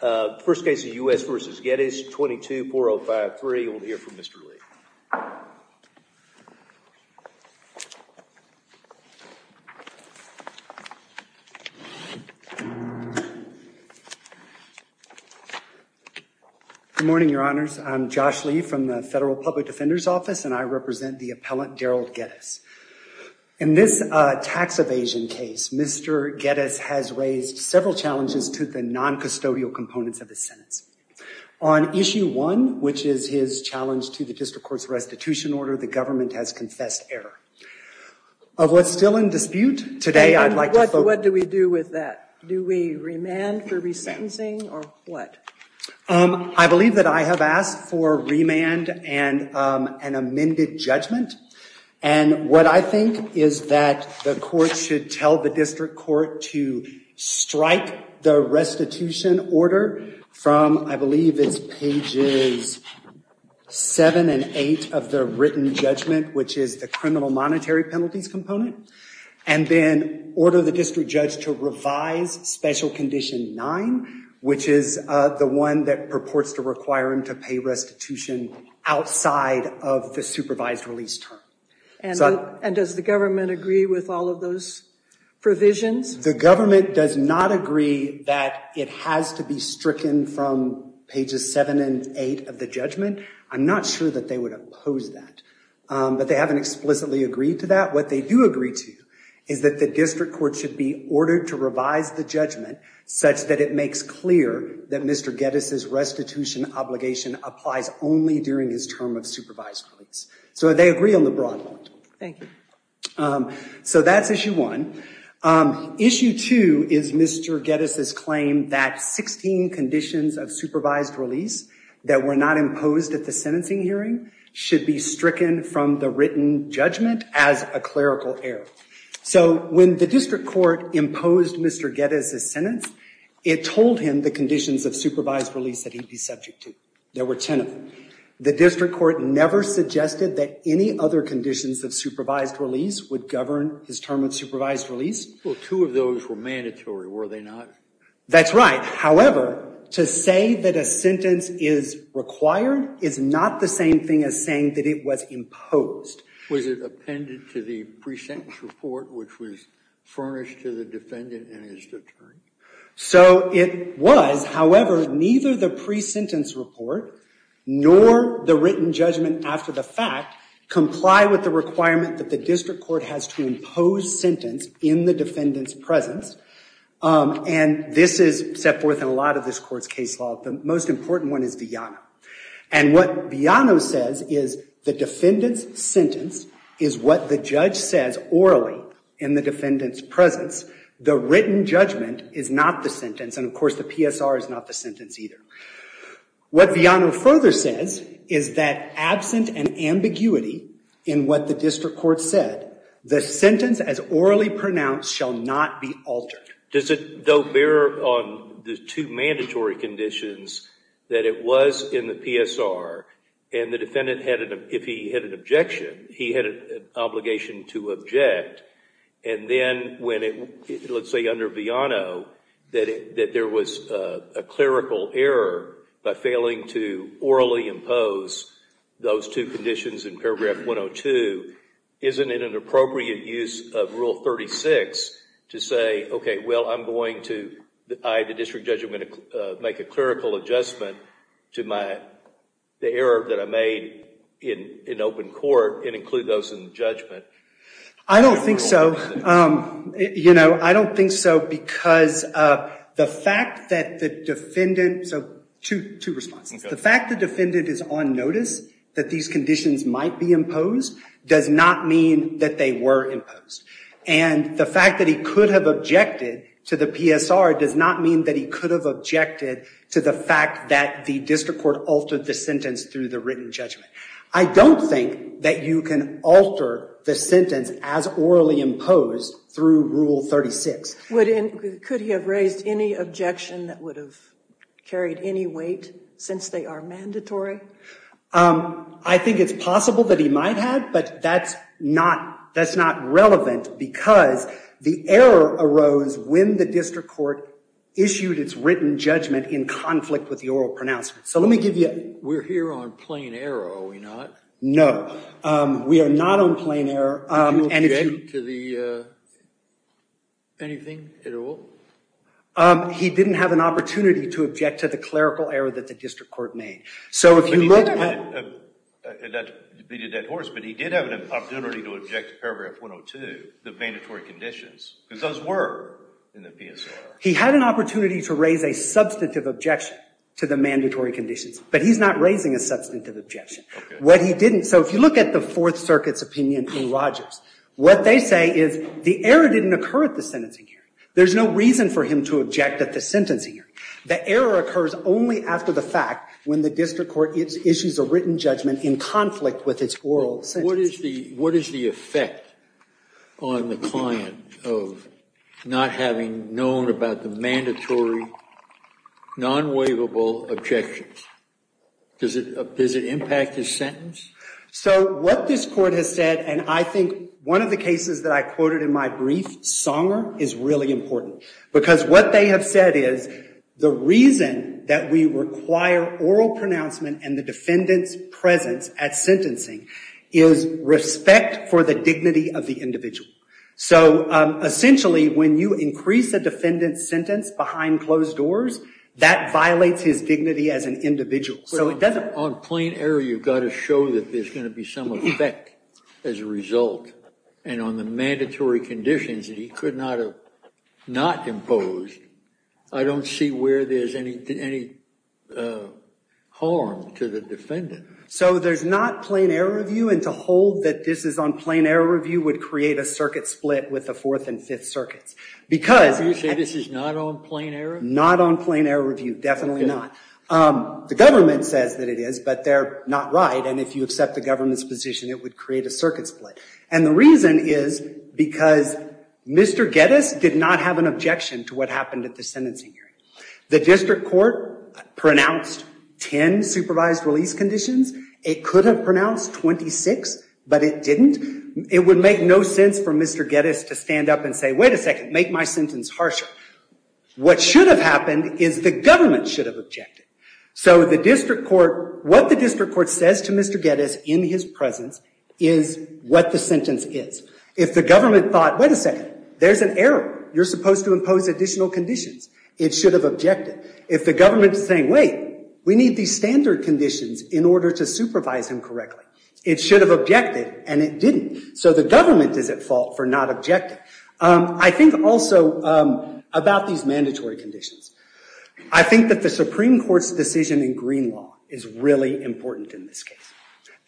The first case is U.S. v. Geddes, 22-405-3. We'll hear from Mr. Lee. Good morning, your honors. I'm Josh Lee from the Federal Public Defender's Office, and I represent the appellant Daryl Geddes. In this tax evasion case, Mr. Geddes has raised several challenges to the non-custodial components of his sentence. On Issue 1, which is his challenge to the district court's restitution order, the government has confessed error. Of what's still in dispute today, I'd like to focus... And what do we do with that? Do we remand for resentencing or what? I believe that I have asked for remand and an amended judgment. And what I think is that the court should tell the district court to strike the restitution order from, I believe it's pages 7 and 8 of the written judgment, which is the criminal monetary penalties component, and then order the district judge to revise Special Condition 9, which is the one that purports to require him to pay restitution outside of the supervised release term. And does the government agree with all of those provisions? The government does not agree that it has to be stricken from pages 7 and 8 of the judgment. I'm not sure that they would oppose that, but they haven't explicitly agreed to that. What they do agree to is that the district clear that Mr. Geddes' restitution obligation applies only during his term of supervised release. So they agree on the broad point. Thank you. So that's issue one. Issue two is Mr. Geddes' claim that 16 conditions of supervised release that were not imposed at the sentencing hearing should be stricken from the written judgment as a clerical error. So when the district court imposed Mr. Geddes' sentence, it told him the conditions of supervised release that he'd be subject to. There were 10 of them. The district court never suggested that any other conditions of supervised release would govern his term of supervised release. Well, two of those were mandatory, were they not? That's right. However, to say that a sentence is required is not the same thing as saying that it was imposed. Was it appended to the pre-sentence report, which was furnished to the defendant in his term? So it was. However, neither the pre-sentence report nor the written judgment after the fact comply with the requirement that the district court has to impose sentence in the defendant's presence. And this is set forth in a lot of this court's case law. The most important one is Viano. And what Viano says is the defendant's sentence is what the judge says orally in the defendant's presence. The written judgment is not the sentence. And of course, the PSR is not the sentence either. What Viano further says is that absent an ambiguity in what the district court said, the sentence as orally pronounced shall not be altered. Does it though bear on the two mandatory conditions that it was in the PSR and the defendant had an, if he had an objection, he had an obligation to object. And then when it, let's say under Viano, that there was a clerical error by failing to orally impose those two conditions in paragraph 102, isn't it an appropriate use of rule 36 to say, okay, well, I'm a clerical adjustment to my, the error that I made in open court and include those in judgment? I don't think so. You know, I don't think so because the fact that the defendant, so two responses. The fact the defendant is on notice that these conditions might be imposed does not mean that they were imposed. And the fact that he could have objected to the PSR does not mean that he could have objected to the fact that the district court altered the sentence through the written judgment. I don't think that you can alter the sentence as orally imposed through rule 36. Would, could he have raised any objection that would have carried any weight since they are mandatory? I think it's possible that he might have, but that's not, that's not relevant because the error arose when the district court issued its written judgment in conflict with the oral pronouncement. So let me give you. We're here on plain error, are we not? No, we are not on plain error. Anything at all? He didn't have an opportunity to object to the clerical error that the district court made. So if you look at that, he did have an opportunity to object to paragraph 102, the mandatory conditions, because those were in the PSR. He had an opportunity to raise a substantive objection to the mandatory conditions, but he's not raising a substantive objection. What he didn't, so if you look at the Fourth Circuit's opinion in Rogers, what they say is the error didn't occur at the sentencing hearing. There's no reason for him to object at the sentencing hearing. The error occurs only after the fact when the district court issues a written judgment in conflict with its oral sentence. What is the effect on the client of not having known about the mandatory non-waivable objections? Does it impact his sentence? So what this court has said, and I think one of the cases that I quoted in my brief, Songer, is really important because what they have said is the reason that we require oral pronouncement and the defendant's presence at sentencing is respect for the dignity of the individual. So essentially, when you increase the defendant's sentence behind closed doors, that violates his dignity as an individual. On plain error, you've got to show that there's going to be some effect as a result, and on the mandatory conditions that he could not have not imposed, I don't see where there's any harm to the defendant. So there's not plain error review, and to hold that this is on plain error review would create a circuit split with the Fourth and Fifth Circuits. Do you say this is not on plain error? Not on plain error review, definitely not. The government says that it is, but they're not right, and if you accept the government's position, it would create a circuit split. And the reason is because Mr. Geddes did not have an objection to what happened at the sentencing hearing. The district court pronounced 10 supervised release conditions. It could have pronounced 26, but it didn't. It would make no sense for Mr. Geddes to stand up and say, wait a second, make my sentence harsher. What should have happened is the government should have objected. So what the district court says to Mr. Geddes in his presence is what the sentence is. If the government thought, wait a second, there's an error, you're supposed to impose additional conditions, it should have objected. If the government is saying, wait, we need these standard conditions in order to supervise him correctly, it should have objected, and it didn't. So the government is at fault for not objecting. I think also about these mandatory conditions. I think that the Supreme Court's decision in this case.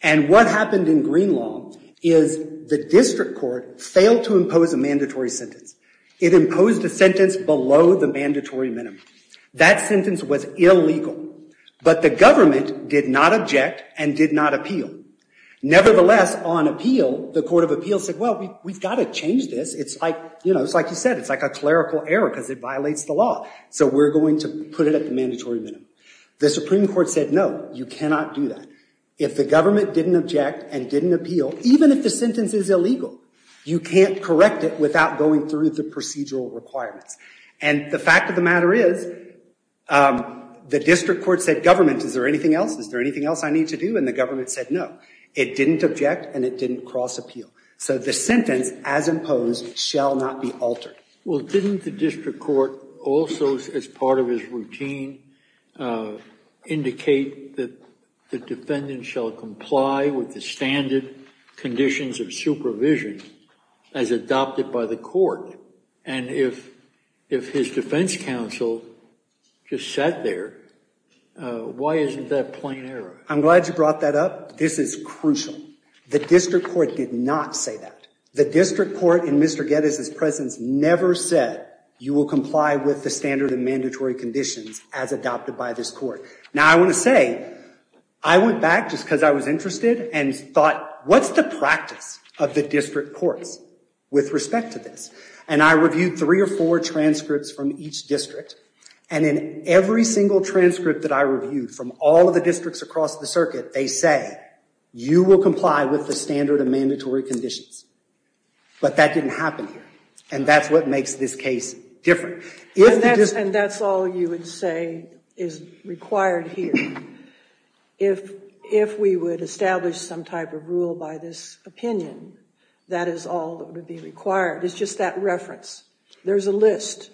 And what happened in Green law is the district court failed to impose a mandatory sentence. It imposed a sentence below the mandatory minimum. That sentence was illegal, but the government did not object and did not appeal. Nevertheless, on appeal, the court of appeal said, well, we've got to change this. It's like you said, it's like a clerical error because it violates the law. So we're going to put it at the mandatory minimum. The Supreme Court said, no, you cannot do that. If the government didn't object and didn't appeal, even if the sentence is illegal, you can't correct it without going through the procedural requirements. And the fact of the matter is the district court said, government, is there anything else? Is there anything else I need to do? And the government said, no, it didn't object and it didn't cross appeal. So the sentence as imposed shall not be altered. Well, didn't the district court also, as part of his routine, indicate that the defendant shall comply with the standard conditions of supervision as adopted by the court? And if his defense counsel just sat there, why isn't that plain error? I'm glad you brought that up. This is crucial. The district court did not say that. The district court in Mr. Geddes' presence never said, you will comply with the mandatory conditions as adopted by this court. Now, I want to say, I went back just because I was interested and thought, what's the practice of the district courts with respect to this? And I reviewed three or four transcripts from each district. And in every single transcript that I reviewed from all of the districts across the circuit, they say, you will comply with the standard and mandatory conditions. But that didn't happen here. And that's what makes this case different. And that's all you would say is required here. If we would establish some type of rule by this opinion, that is all that would be required. It's just that reference. There's a list.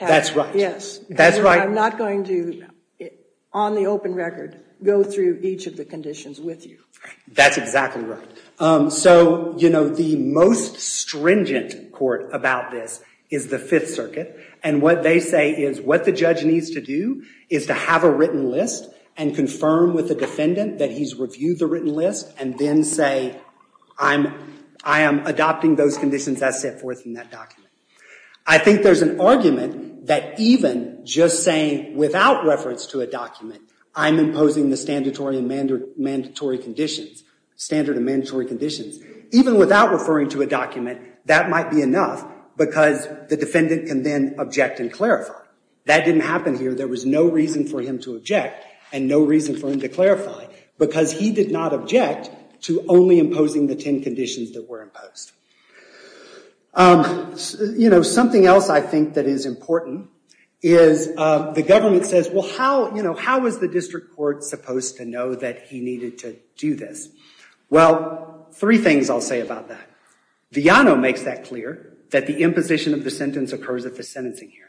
That's right. Yes. That's right. I'm not going to, on the open record, go through each of the conditions with you. That's exactly right. So, you know, the most And what they say is, what the judge needs to do is to have a written list and confirm with the defendant that he's reviewed the written list and then say, I am adopting those conditions as set forth in that document. I think there's an argument that even just saying without reference to a document, I'm imposing the standard and mandatory conditions. Even without referring to a document, that might be enough because the defendant can then object and clarify. That didn't happen here. There was no reason for him to object and no reason for him to clarify because he did not object to only imposing the 10 conditions that were imposed. You know, something else I think that is important is the government says, well, how, you know, how is the district court supposed to know that he needed to do this? Well, three things I'll say about that. Viano makes that clear, that the imposition of the sentence occurs at the sentencing hearing.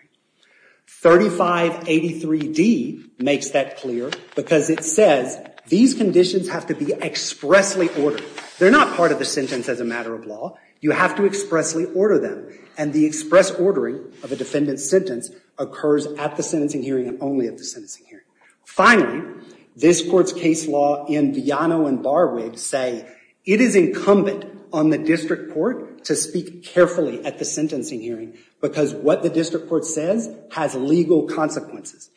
3583D makes that clear because it says these conditions have to be expressly ordered. They're not part of the sentence as a matter of law. You have to expressly order them. And the express ordering of a defendant's sentence occurs at the sentencing hearing and only at the sentencing hearing. Finally, this court's case law in Viano and it is incumbent on the district court to speak carefully at the sentencing hearing because what the district court says has legal consequences.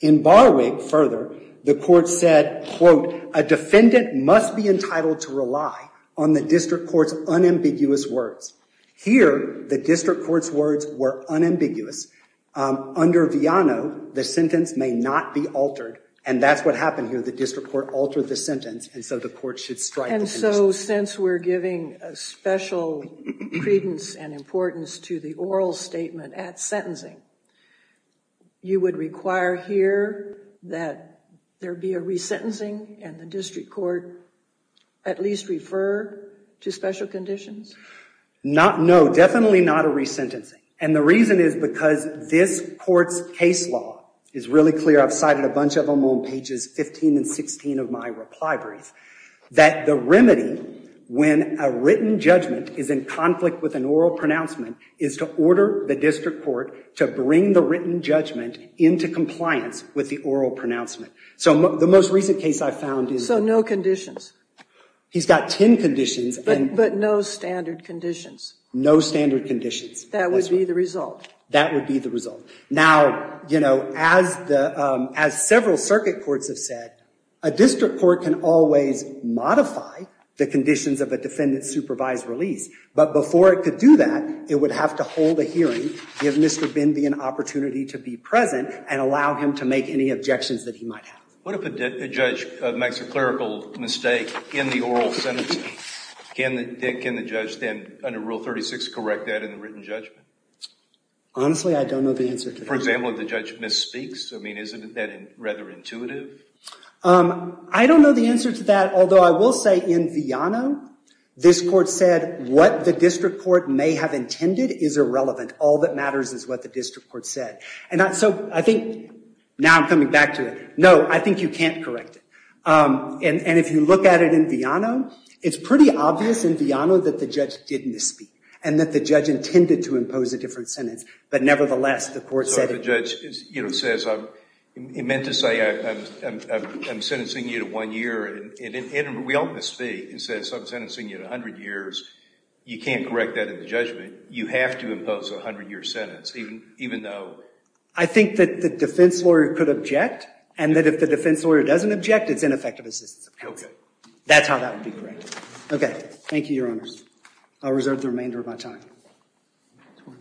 In Barwig, further, the court said, quote, a defendant must be entitled to rely on the district court's unambiguous words. Here, the district court's words were unambiguous. Under Viano, the sentence may not be altered. And that's what happened here. The district court altered the sentence and so the court should strike the condition. And so since we're giving special credence and importance to the oral statement at sentencing, you would require here that there be a resentencing and the district court at least refer to special conditions? Not, no, definitely not a resentencing. And the reason is because this court's case law is really clear. I've cited a bunch of them on pages 15 and 16 of my reply brief that the remedy when a written judgment is in conflict with an oral pronouncement is to order the district court to bring the written judgment into compliance with the oral pronouncement. So the most recent case I found is. So no conditions? He's got 10 conditions. But no standard conditions? No standard conditions. That would be the result? That would be the A district court can always modify the conditions of a defendant's supervised release, but before it could do that, it would have to hold a hearing, give Mr. Bindi an opportunity to be present, and allow him to make any objections that he might have. What if a judge makes a clerical mistake in the oral sentencing? Can the judge then, under Rule 36, correct that in the written judgment? Honestly, I don't know the answer to that. For example, if the judge misspeaks, I mean, isn't that rather intuitive? I don't know the answer to that, although I will say in Viano, this court said what the district court may have intended is irrelevant. All that matters is what the district court said. And so I think now I'm coming back to it. No, I think you can't correct it. And if you look at it in Viano, it's pretty obvious in Viano that the judge did misspeak, and that the judge intended to impose a different sentence. But nevertheless, the court said it. So if the judge says, I meant to say I'm sentencing you to one year, and we don't misspeak, and says I'm sentencing you to 100 years, you can't correct that in the judgment. You have to impose a 100-year sentence, even though? I think that the defense lawyer could object, and that if the defense lawyer doesn't object, it's ineffective assistance. Okay. That's how that would be corrected. Okay. Thank you, Your Honors. I'll reserve the remainder of my time. Thank you.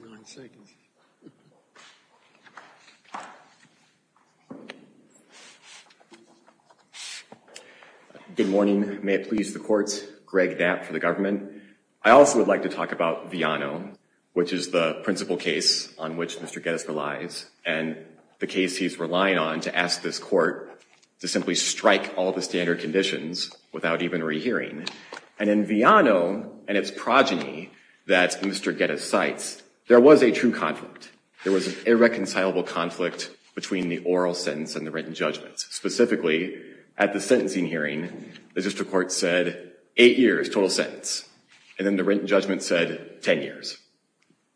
Good morning. May it please the courts. Greg Knapp for the government. I also would like to talk about Viano, which is the principal case on which Mr. Geddes relies, and the case he's relying on to ask this court to simply strike all the standard conditions without even rehearing. And in Viano, and its progeny that Mr. Geddes cites, there was a true conflict. There was an irreconcilable conflict between the oral sentence and the written judgment. Specifically, at the sentencing hearing, the district court said eight years, total sentence. And then the written judgment said 10 years.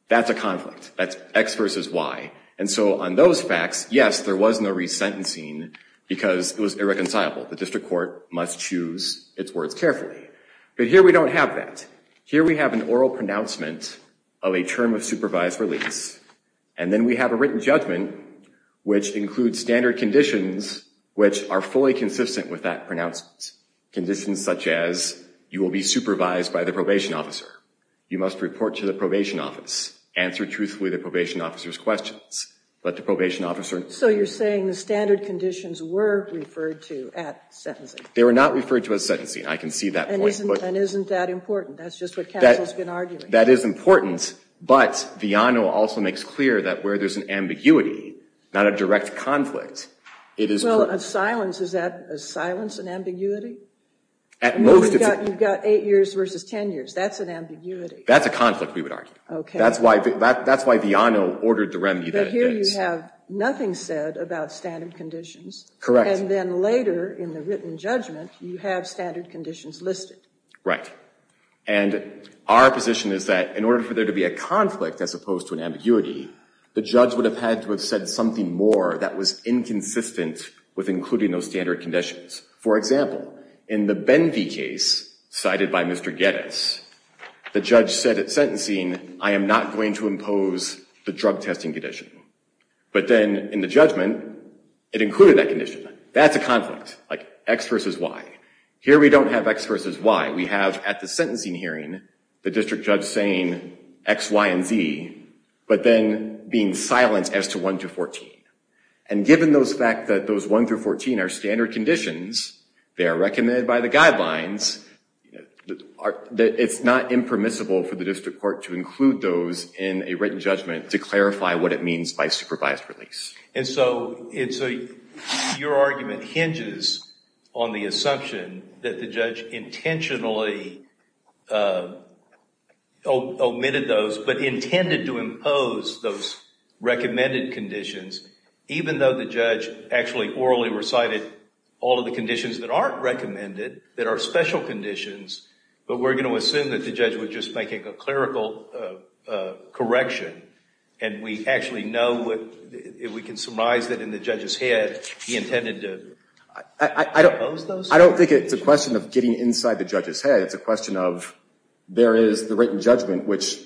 That's a conflict. That's X versus Y. And so on those facts, yes, there was no resentencing, because it was irreconcilable. The district court must choose its words carefully. But here we don't have that. Here we have an oral pronouncement of a term of supervised release. And then we have a written judgment, which includes standard conditions, which are fully consistent with that pronouncement. Conditions such as, you will be supervised by the probation officer. You must report to the probation office. Answer truthfully the probation officer's questions. But the probation officer... So you're saying the standard conditions were referred to at sentencing. They were not referred to at sentencing. I can see that point. And isn't that important? That's just what counsel's been arguing. That is important, but Viano also makes clear that where there's an ambiguity, not a direct conflict, it is... Well, a silence, is that a silence, an ambiguity? At most, it's... You've got eight years versus 10 years. That's an ambiguity. That's a conflict, we would argue. Okay. That's why Viano ordered the remedy that it is. But here you have standard conditions listed. Right. And our position is that in order for there to be a conflict as opposed to an ambiguity, the judge would have had to have said something more that was inconsistent with including those standard conditions. For example, in the Benvey case, cited by Mr. Geddes, the judge said at sentencing, I am not going to impose the drug testing condition. But then in the judgment, it included that condition. That's a conflict, like X versus Y. Here we don't have X versus Y. We have at the sentencing hearing, the district judge saying X, Y, and Z, but then being silenced as to 1 through 14. And given those fact that those 1 through 14 are standard conditions, they are recommended by the guidelines, it's not impermissible for the district court to include those in a written judgment to clarify what it means by supervised release. And so your argument hinges on the assumption that the judge intentionally omitted those, but intended to impose those recommended conditions, even though the judge actually orally recited all of the conditions that aren't recommended, that are special conditions, but we're going to assume that the judge was just making a clerical correction, and we actually know what, if we can surmise that in the judge's head, he intended to impose those? I don't think it's a question of getting inside the judge's head. It's a question of, there is the written judgment, which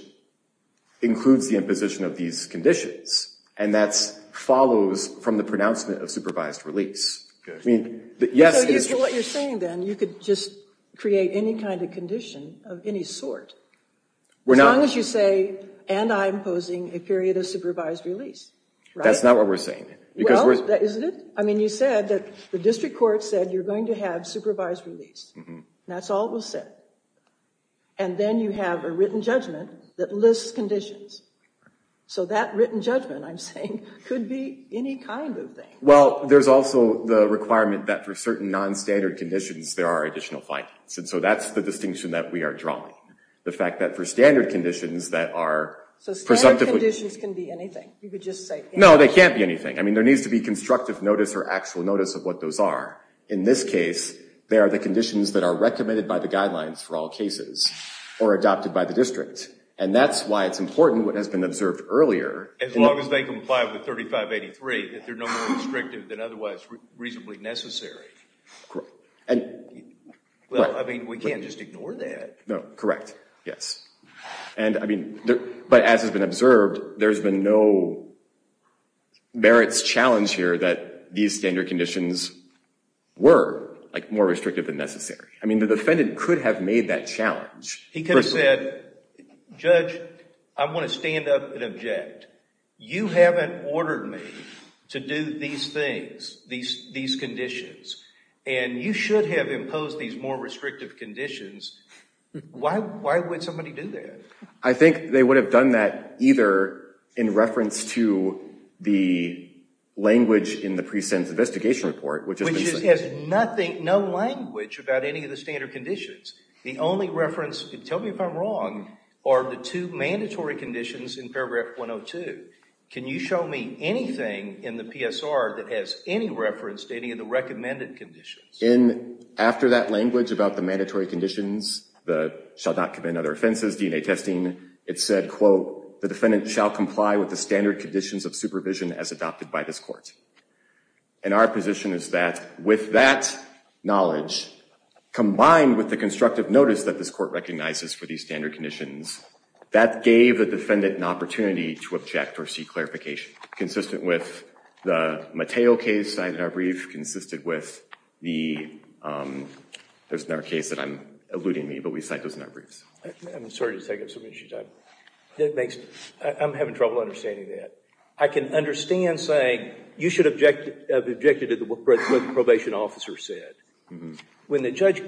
includes the imposition of these conditions, and that follows from the pronouncement of supervised release. I mean, yes, it's... So what you're saying then, you could just create any kind of condition of any sort. As long as you say, and I'm imposing a period of supervised release, right? That's not what we're saying. Well, isn't it? I mean, you said that the district court said you're going to have supervised release. That's all it will say. And then you have a written judgment that lists conditions. So that written judgment, I'm saying, could be any kind of thing. Well, there's also the requirement that for certain non-standard conditions, there are additional findings. And so that's the distinction that we are drawing. The fact that for standard conditions that are... So standard conditions can be anything. You could just say... No, they can't be anything. I mean, there needs to be constructive notice or actual notice of what those are. In this case, they are the conditions that are recommended by the guidelines for all cases or adopted by the district. And that's why it's important what has been observed earlier... As long as they comply with 3583, that they're no more restrictive than otherwise reasonably necessary. I mean, we can't just ignore that. No, correct. Yes. But as has been observed, there's been no merits challenge here that these standard conditions were more restrictive than necessary. I mean, the defendant could have made that challenge. He could have said, Judge, I'm going to stand up and object. You haven't ordered me to do these things, these conditions. And you should have imposed these more restrictive conditions Why would somebody do that? I think they would have done that either in reference to the language in the precinct investigation report, which is... Which has nothing, no language about any of the standard conditions. The only reference, tell me if I'm wrong, are the two mandatory conditions in paragraph 102. Can you show me anything in the PSR that has any reference to any of the recommended conditions? In after that language about the mandatory conditions, the shall not commend other offenses, DNA testing, it said, quote, the defendant shall comply with the standard conditions of supervision as adopted by this court. And our position is that with that knowledge, combined with the constructive notice that this court recognizes for these standard conditions, that gave the defendant an opportunity to object or seek clarification, consistent with the Mateo case I had in our brief, consistent with the, there's another case that I'm, eluding me, but we cite those in our briefs. I'm sorry to take up so much of your time. I'm having trouble understanding that. I can understand saying, you should object to what the probation officer said. When the judge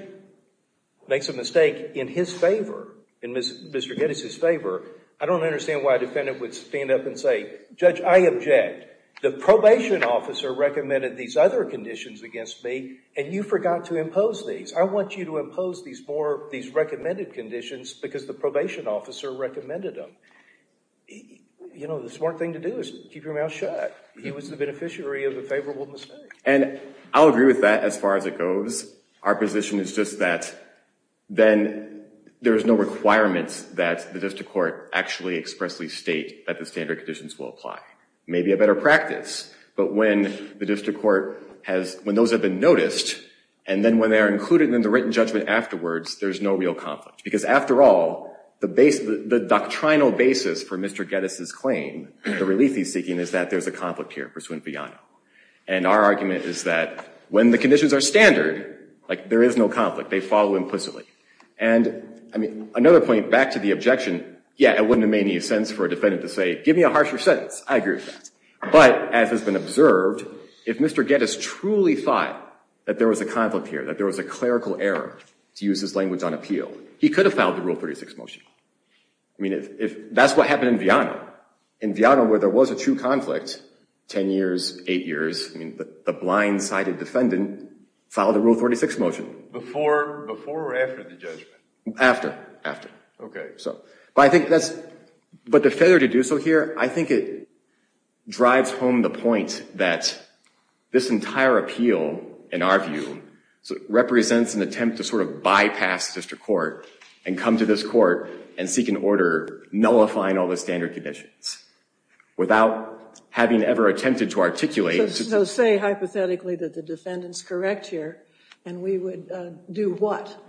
makes a mistake in his favor, in Mr. Geddes' favor, I don't understand why a defendant would stand up and say, judge, I object. The probation officer recommended these other conditions against me, and you forgot to impose these. I want you to impose these more, these recommended conditions because the probation officer recommended them. You know, the smart thing to do is keep your mouth shut. He was the beneficiary of the favorable mistake. And I'll agree with that as far as it goes. Our position is just that then there's no requirements that the district court actually expressly state that the standard conditions will apply. Maybe a better practice, but when the district court has, when those have been noticed, and then when they're included in the written judgment afterwards, there's no real conflict. Because after all, the base, the doctrinal basis for Mr. Geddes' claim, the relief he's seeking is that there's a conflict here pursuant Biano. And our argument is that when the conditions are standard, like there is no conflict, they follow implicitly. And I mean, another point back to the objection, yeah, it wouldn't have made any sense for a defendant to say, give me a harsher sentence. I agree with that. But as has been observed, if Mr. Geddes truly thought that there was a conflict here, that there was a clerical error, to use his language on appeal, he could have filed the Rule 36 motion. I mean, if that's what happened in Biano, in Biano where there was a true conflict, 10 years, 8 years, I mean, the blind-sided defendant filed the Rule 36 motion. Before or after the judgment? After, after. Okay. So, but I think that's, but the failure to do so here, I think it drives home the point that this entire appeal, in our view, represents an attempt to sort of bypass district court and come to this court and seek an order nullifying all the standard conditions without having ever attempted to articulate. So say, hypothetically, that the defendant's correct here, and we would do what?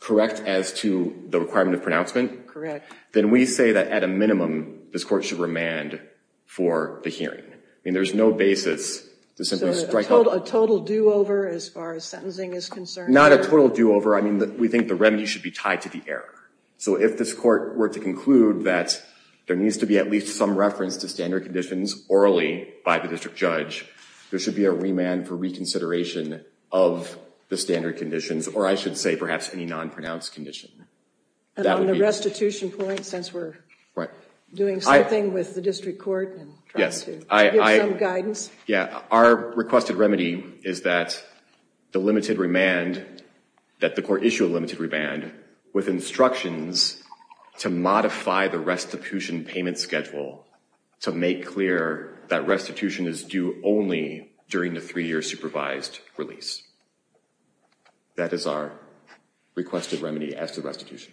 Correct as to the requirement of pronouncement? Correct. Then we say that, at a minimum, this court should remand for the hearing. I mean, there's no basis to simply strike up. So a total do-over as far as sentencing is concerned? Not a total do-over. I mean, we think the there needs to be at least some reference to standard conditions orally by the district judge. There should be a remand for reconsideration of the standard conditions, or I should say perhaps any non-pronounced condition. And on the restitution point, since we're doing something with the district court and trying to give some guidance? Yeah, our requested remedy is that the limited remand, that the court issue a limited remand with instructions to modify the restitution payment schedule to make clear that restitution is due only during the three-year supervised release. That is our requested remedy as to restitution.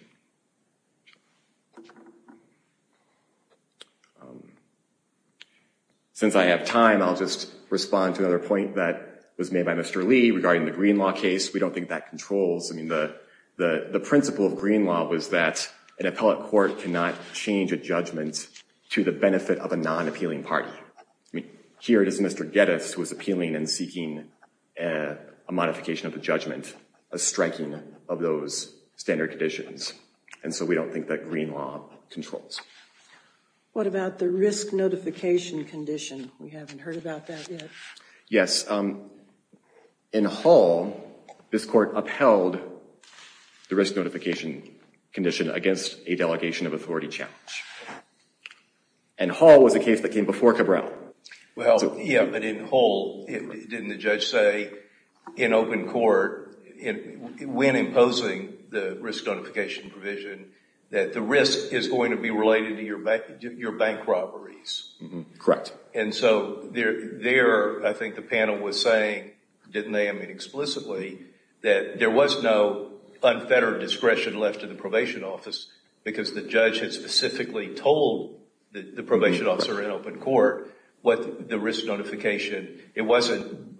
Since I have time, I'll just respond to another point that was made by Mr. Lee regarding the controls. I mean, the principle of green law was that an appellate court cannot change a judgment to the benefit of a non-appealing party. I mean, here it is Mr. Geddes who is appealing and seeking a modification of the judgment, a striking of those standard conditions. And so we don't think that green law controls. What about the risk notification condition? We haven't heard about that yet. Yes, in Hull, this court upheld the risk notification condition against a delegation of authority challenge. And Hull was a case that came before Cabral. Well, yeah, but in Hull, didn't the judge say in open court, when imposing the risk notification provision, that the risk is going to be related to your bank robberies? Correct. And so there, I think, the panel was saying, didn't they? I mean, explicitly that there was no unfettered discretion left in the probation office because the judge had specifically told the probation officer in open court what the risk notification. It wasn't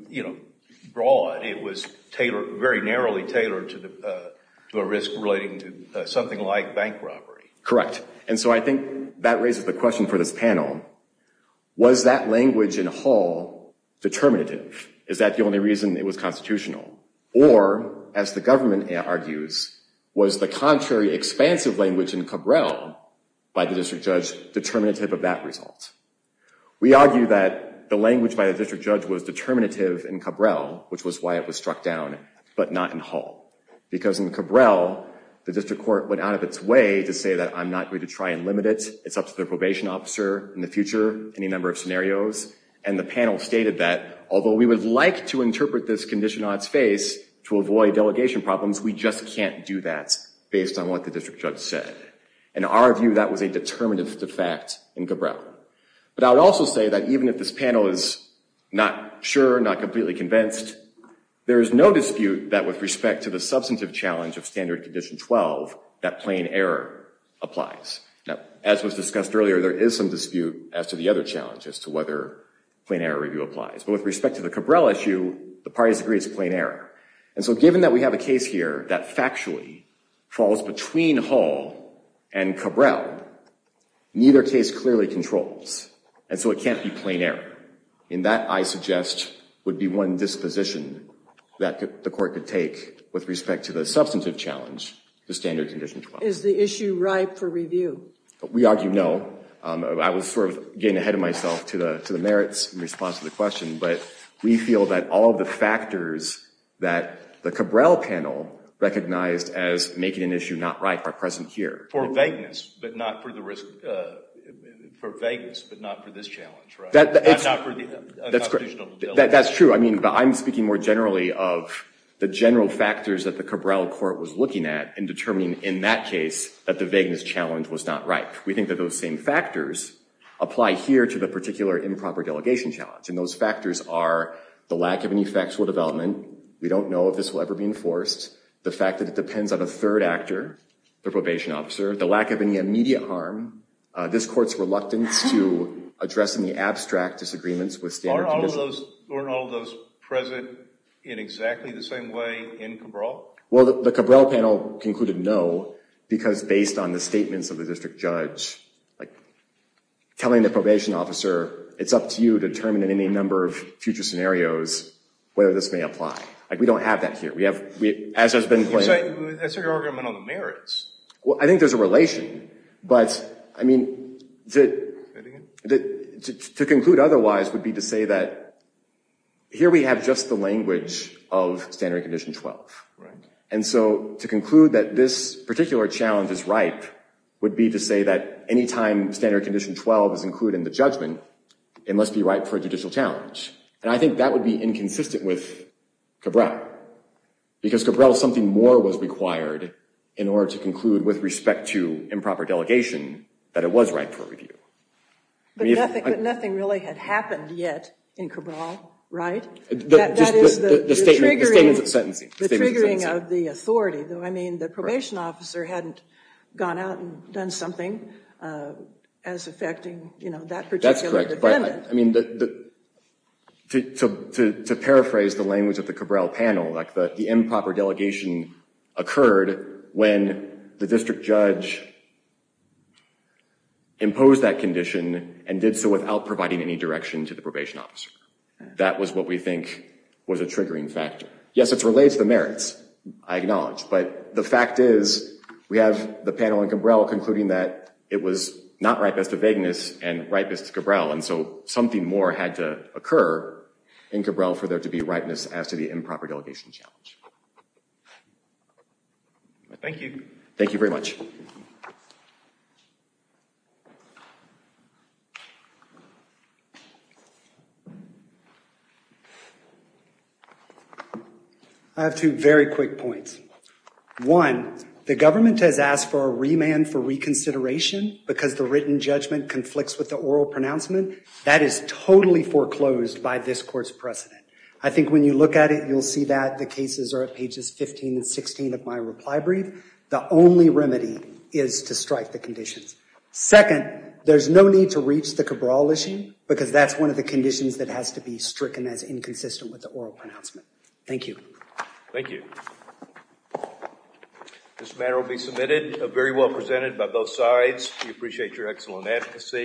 broad. It was very narrowly tailored to a risk relating to something like bank robbery. Correct. And so I think that raises the question for this panel. Was that language in Hull determinative? Is that the only reason it was constitutional? Or, as the government argues, was the contrary expansive language in Cabral by the district judge determinative of that result? We argue that the language by the district judge was The district court went out of its way to say that I'm not going to try and limit it. It's up to the probation officer in the future, any number of scenarios. And the panel stated that, although we would like to interpret this condition on its face to avoid delegation problems, we just can't do that based on what the district judge said. In our view, that was a determinative de facto in Cabral. But I would also say that even if this panel is not sure, not completely convinced, there is no dispute that with respect to the substantive challenge of standard condition 12, that plain error applies. Now, as was discussed earlier, there is some dispute as to the other challenge as to whether plain error review applies. But with respect to the Cabral issue, the parties agree it's plain error. And so given that we have a case here that factually falls between Hull and Cabral, neither case clearly controls. And so it can't be plain error. And that, I suggest, would be one disposition that the court could take with respect to the substantive challenge to standard condition 12. Is the issue ripe for review? We argue no. I was sort of getting ahead of myself to the merits in response to the question. But we feel that all of the factors that the Cabral panel recognized as making an issue not ripe are present here. For vagueness, but not for the risk. For vagueness, but not for this challenge, right? That's true. I mean, I'm speaking more generally of the general factors that the Cabral court was looking at in determining in that case that the vagueness challenge was not ripe. We think that those same factors apply here to the particular improper delegation challenge. And those factors are the lack of any factual development. We don't know if this will ever be enforced. The fact that depends on a third actor, the probation officer. The lack of any immediate harm. This court's reluctance to address any abstract disagreements with standard conditions. Weren't all of those present in exactly the same way in Cabral? Well, the Cabral panel concluded no, because based on the statements of the district judge, like, telling the probation officer, it's up to you to determine any number of future scenarios, whether this may apply. Like, we don't have that here. We have, as has been claimed. That's an argument on the merits. Well, I think there's a relation. But, I mean, to conclude otherwise would be to say that here we have just the language of standard condition 12. Right. And so to conclude that this particular challenge is ripe would be to say that any time standard condition 12 is included in the judgment, it must be ripe for a judicial challenge. And I think that would be inconsistent with Cabral. Because Cabral, something more was required in order to conclude with respect to improper delegation that it was ripe for review. But nothing really had happened yet in Cabral, right? That is the statement of sentencing. The triggering of the authority. Though, I mean, the probation officer hadn't gone out and done something as affecting, you know, that particular event. But, I mean, to paraphrase the language of the Cabral panel, like the improper delegation occurred when the district judge imposed that condition and did so without providing any direction to the probation officer. That was what we think was a triggering factor. Yes, it relates to the merits, I acknowledge. But the fact is we have the panel in Cabral concluding that it was not ripest of vagueness and ripest Cabral. And so something more had to occur in Cabral for there to be ripeness as to the improper delegation challenge. Thank you. Thank you very much. I have two very quick points. One, the government has asked for a remand for reconsideration because the written judgment conflicts with the oral pronouncement. That is totally foreclosed by this court's precedent. I think when you look at it, you'll see that the cases are at pages 15 and 16 of my reply brief. The only remedy is to strike the conditions. Second, there's no need to reach the Cabral issue because that's one of the conditions that has to be stricken as inconsistent with the oral pronouncement. Thank you. Thank you. This matter will be submitted. Very well presented by both sides. We appreciate your excellent advocacy.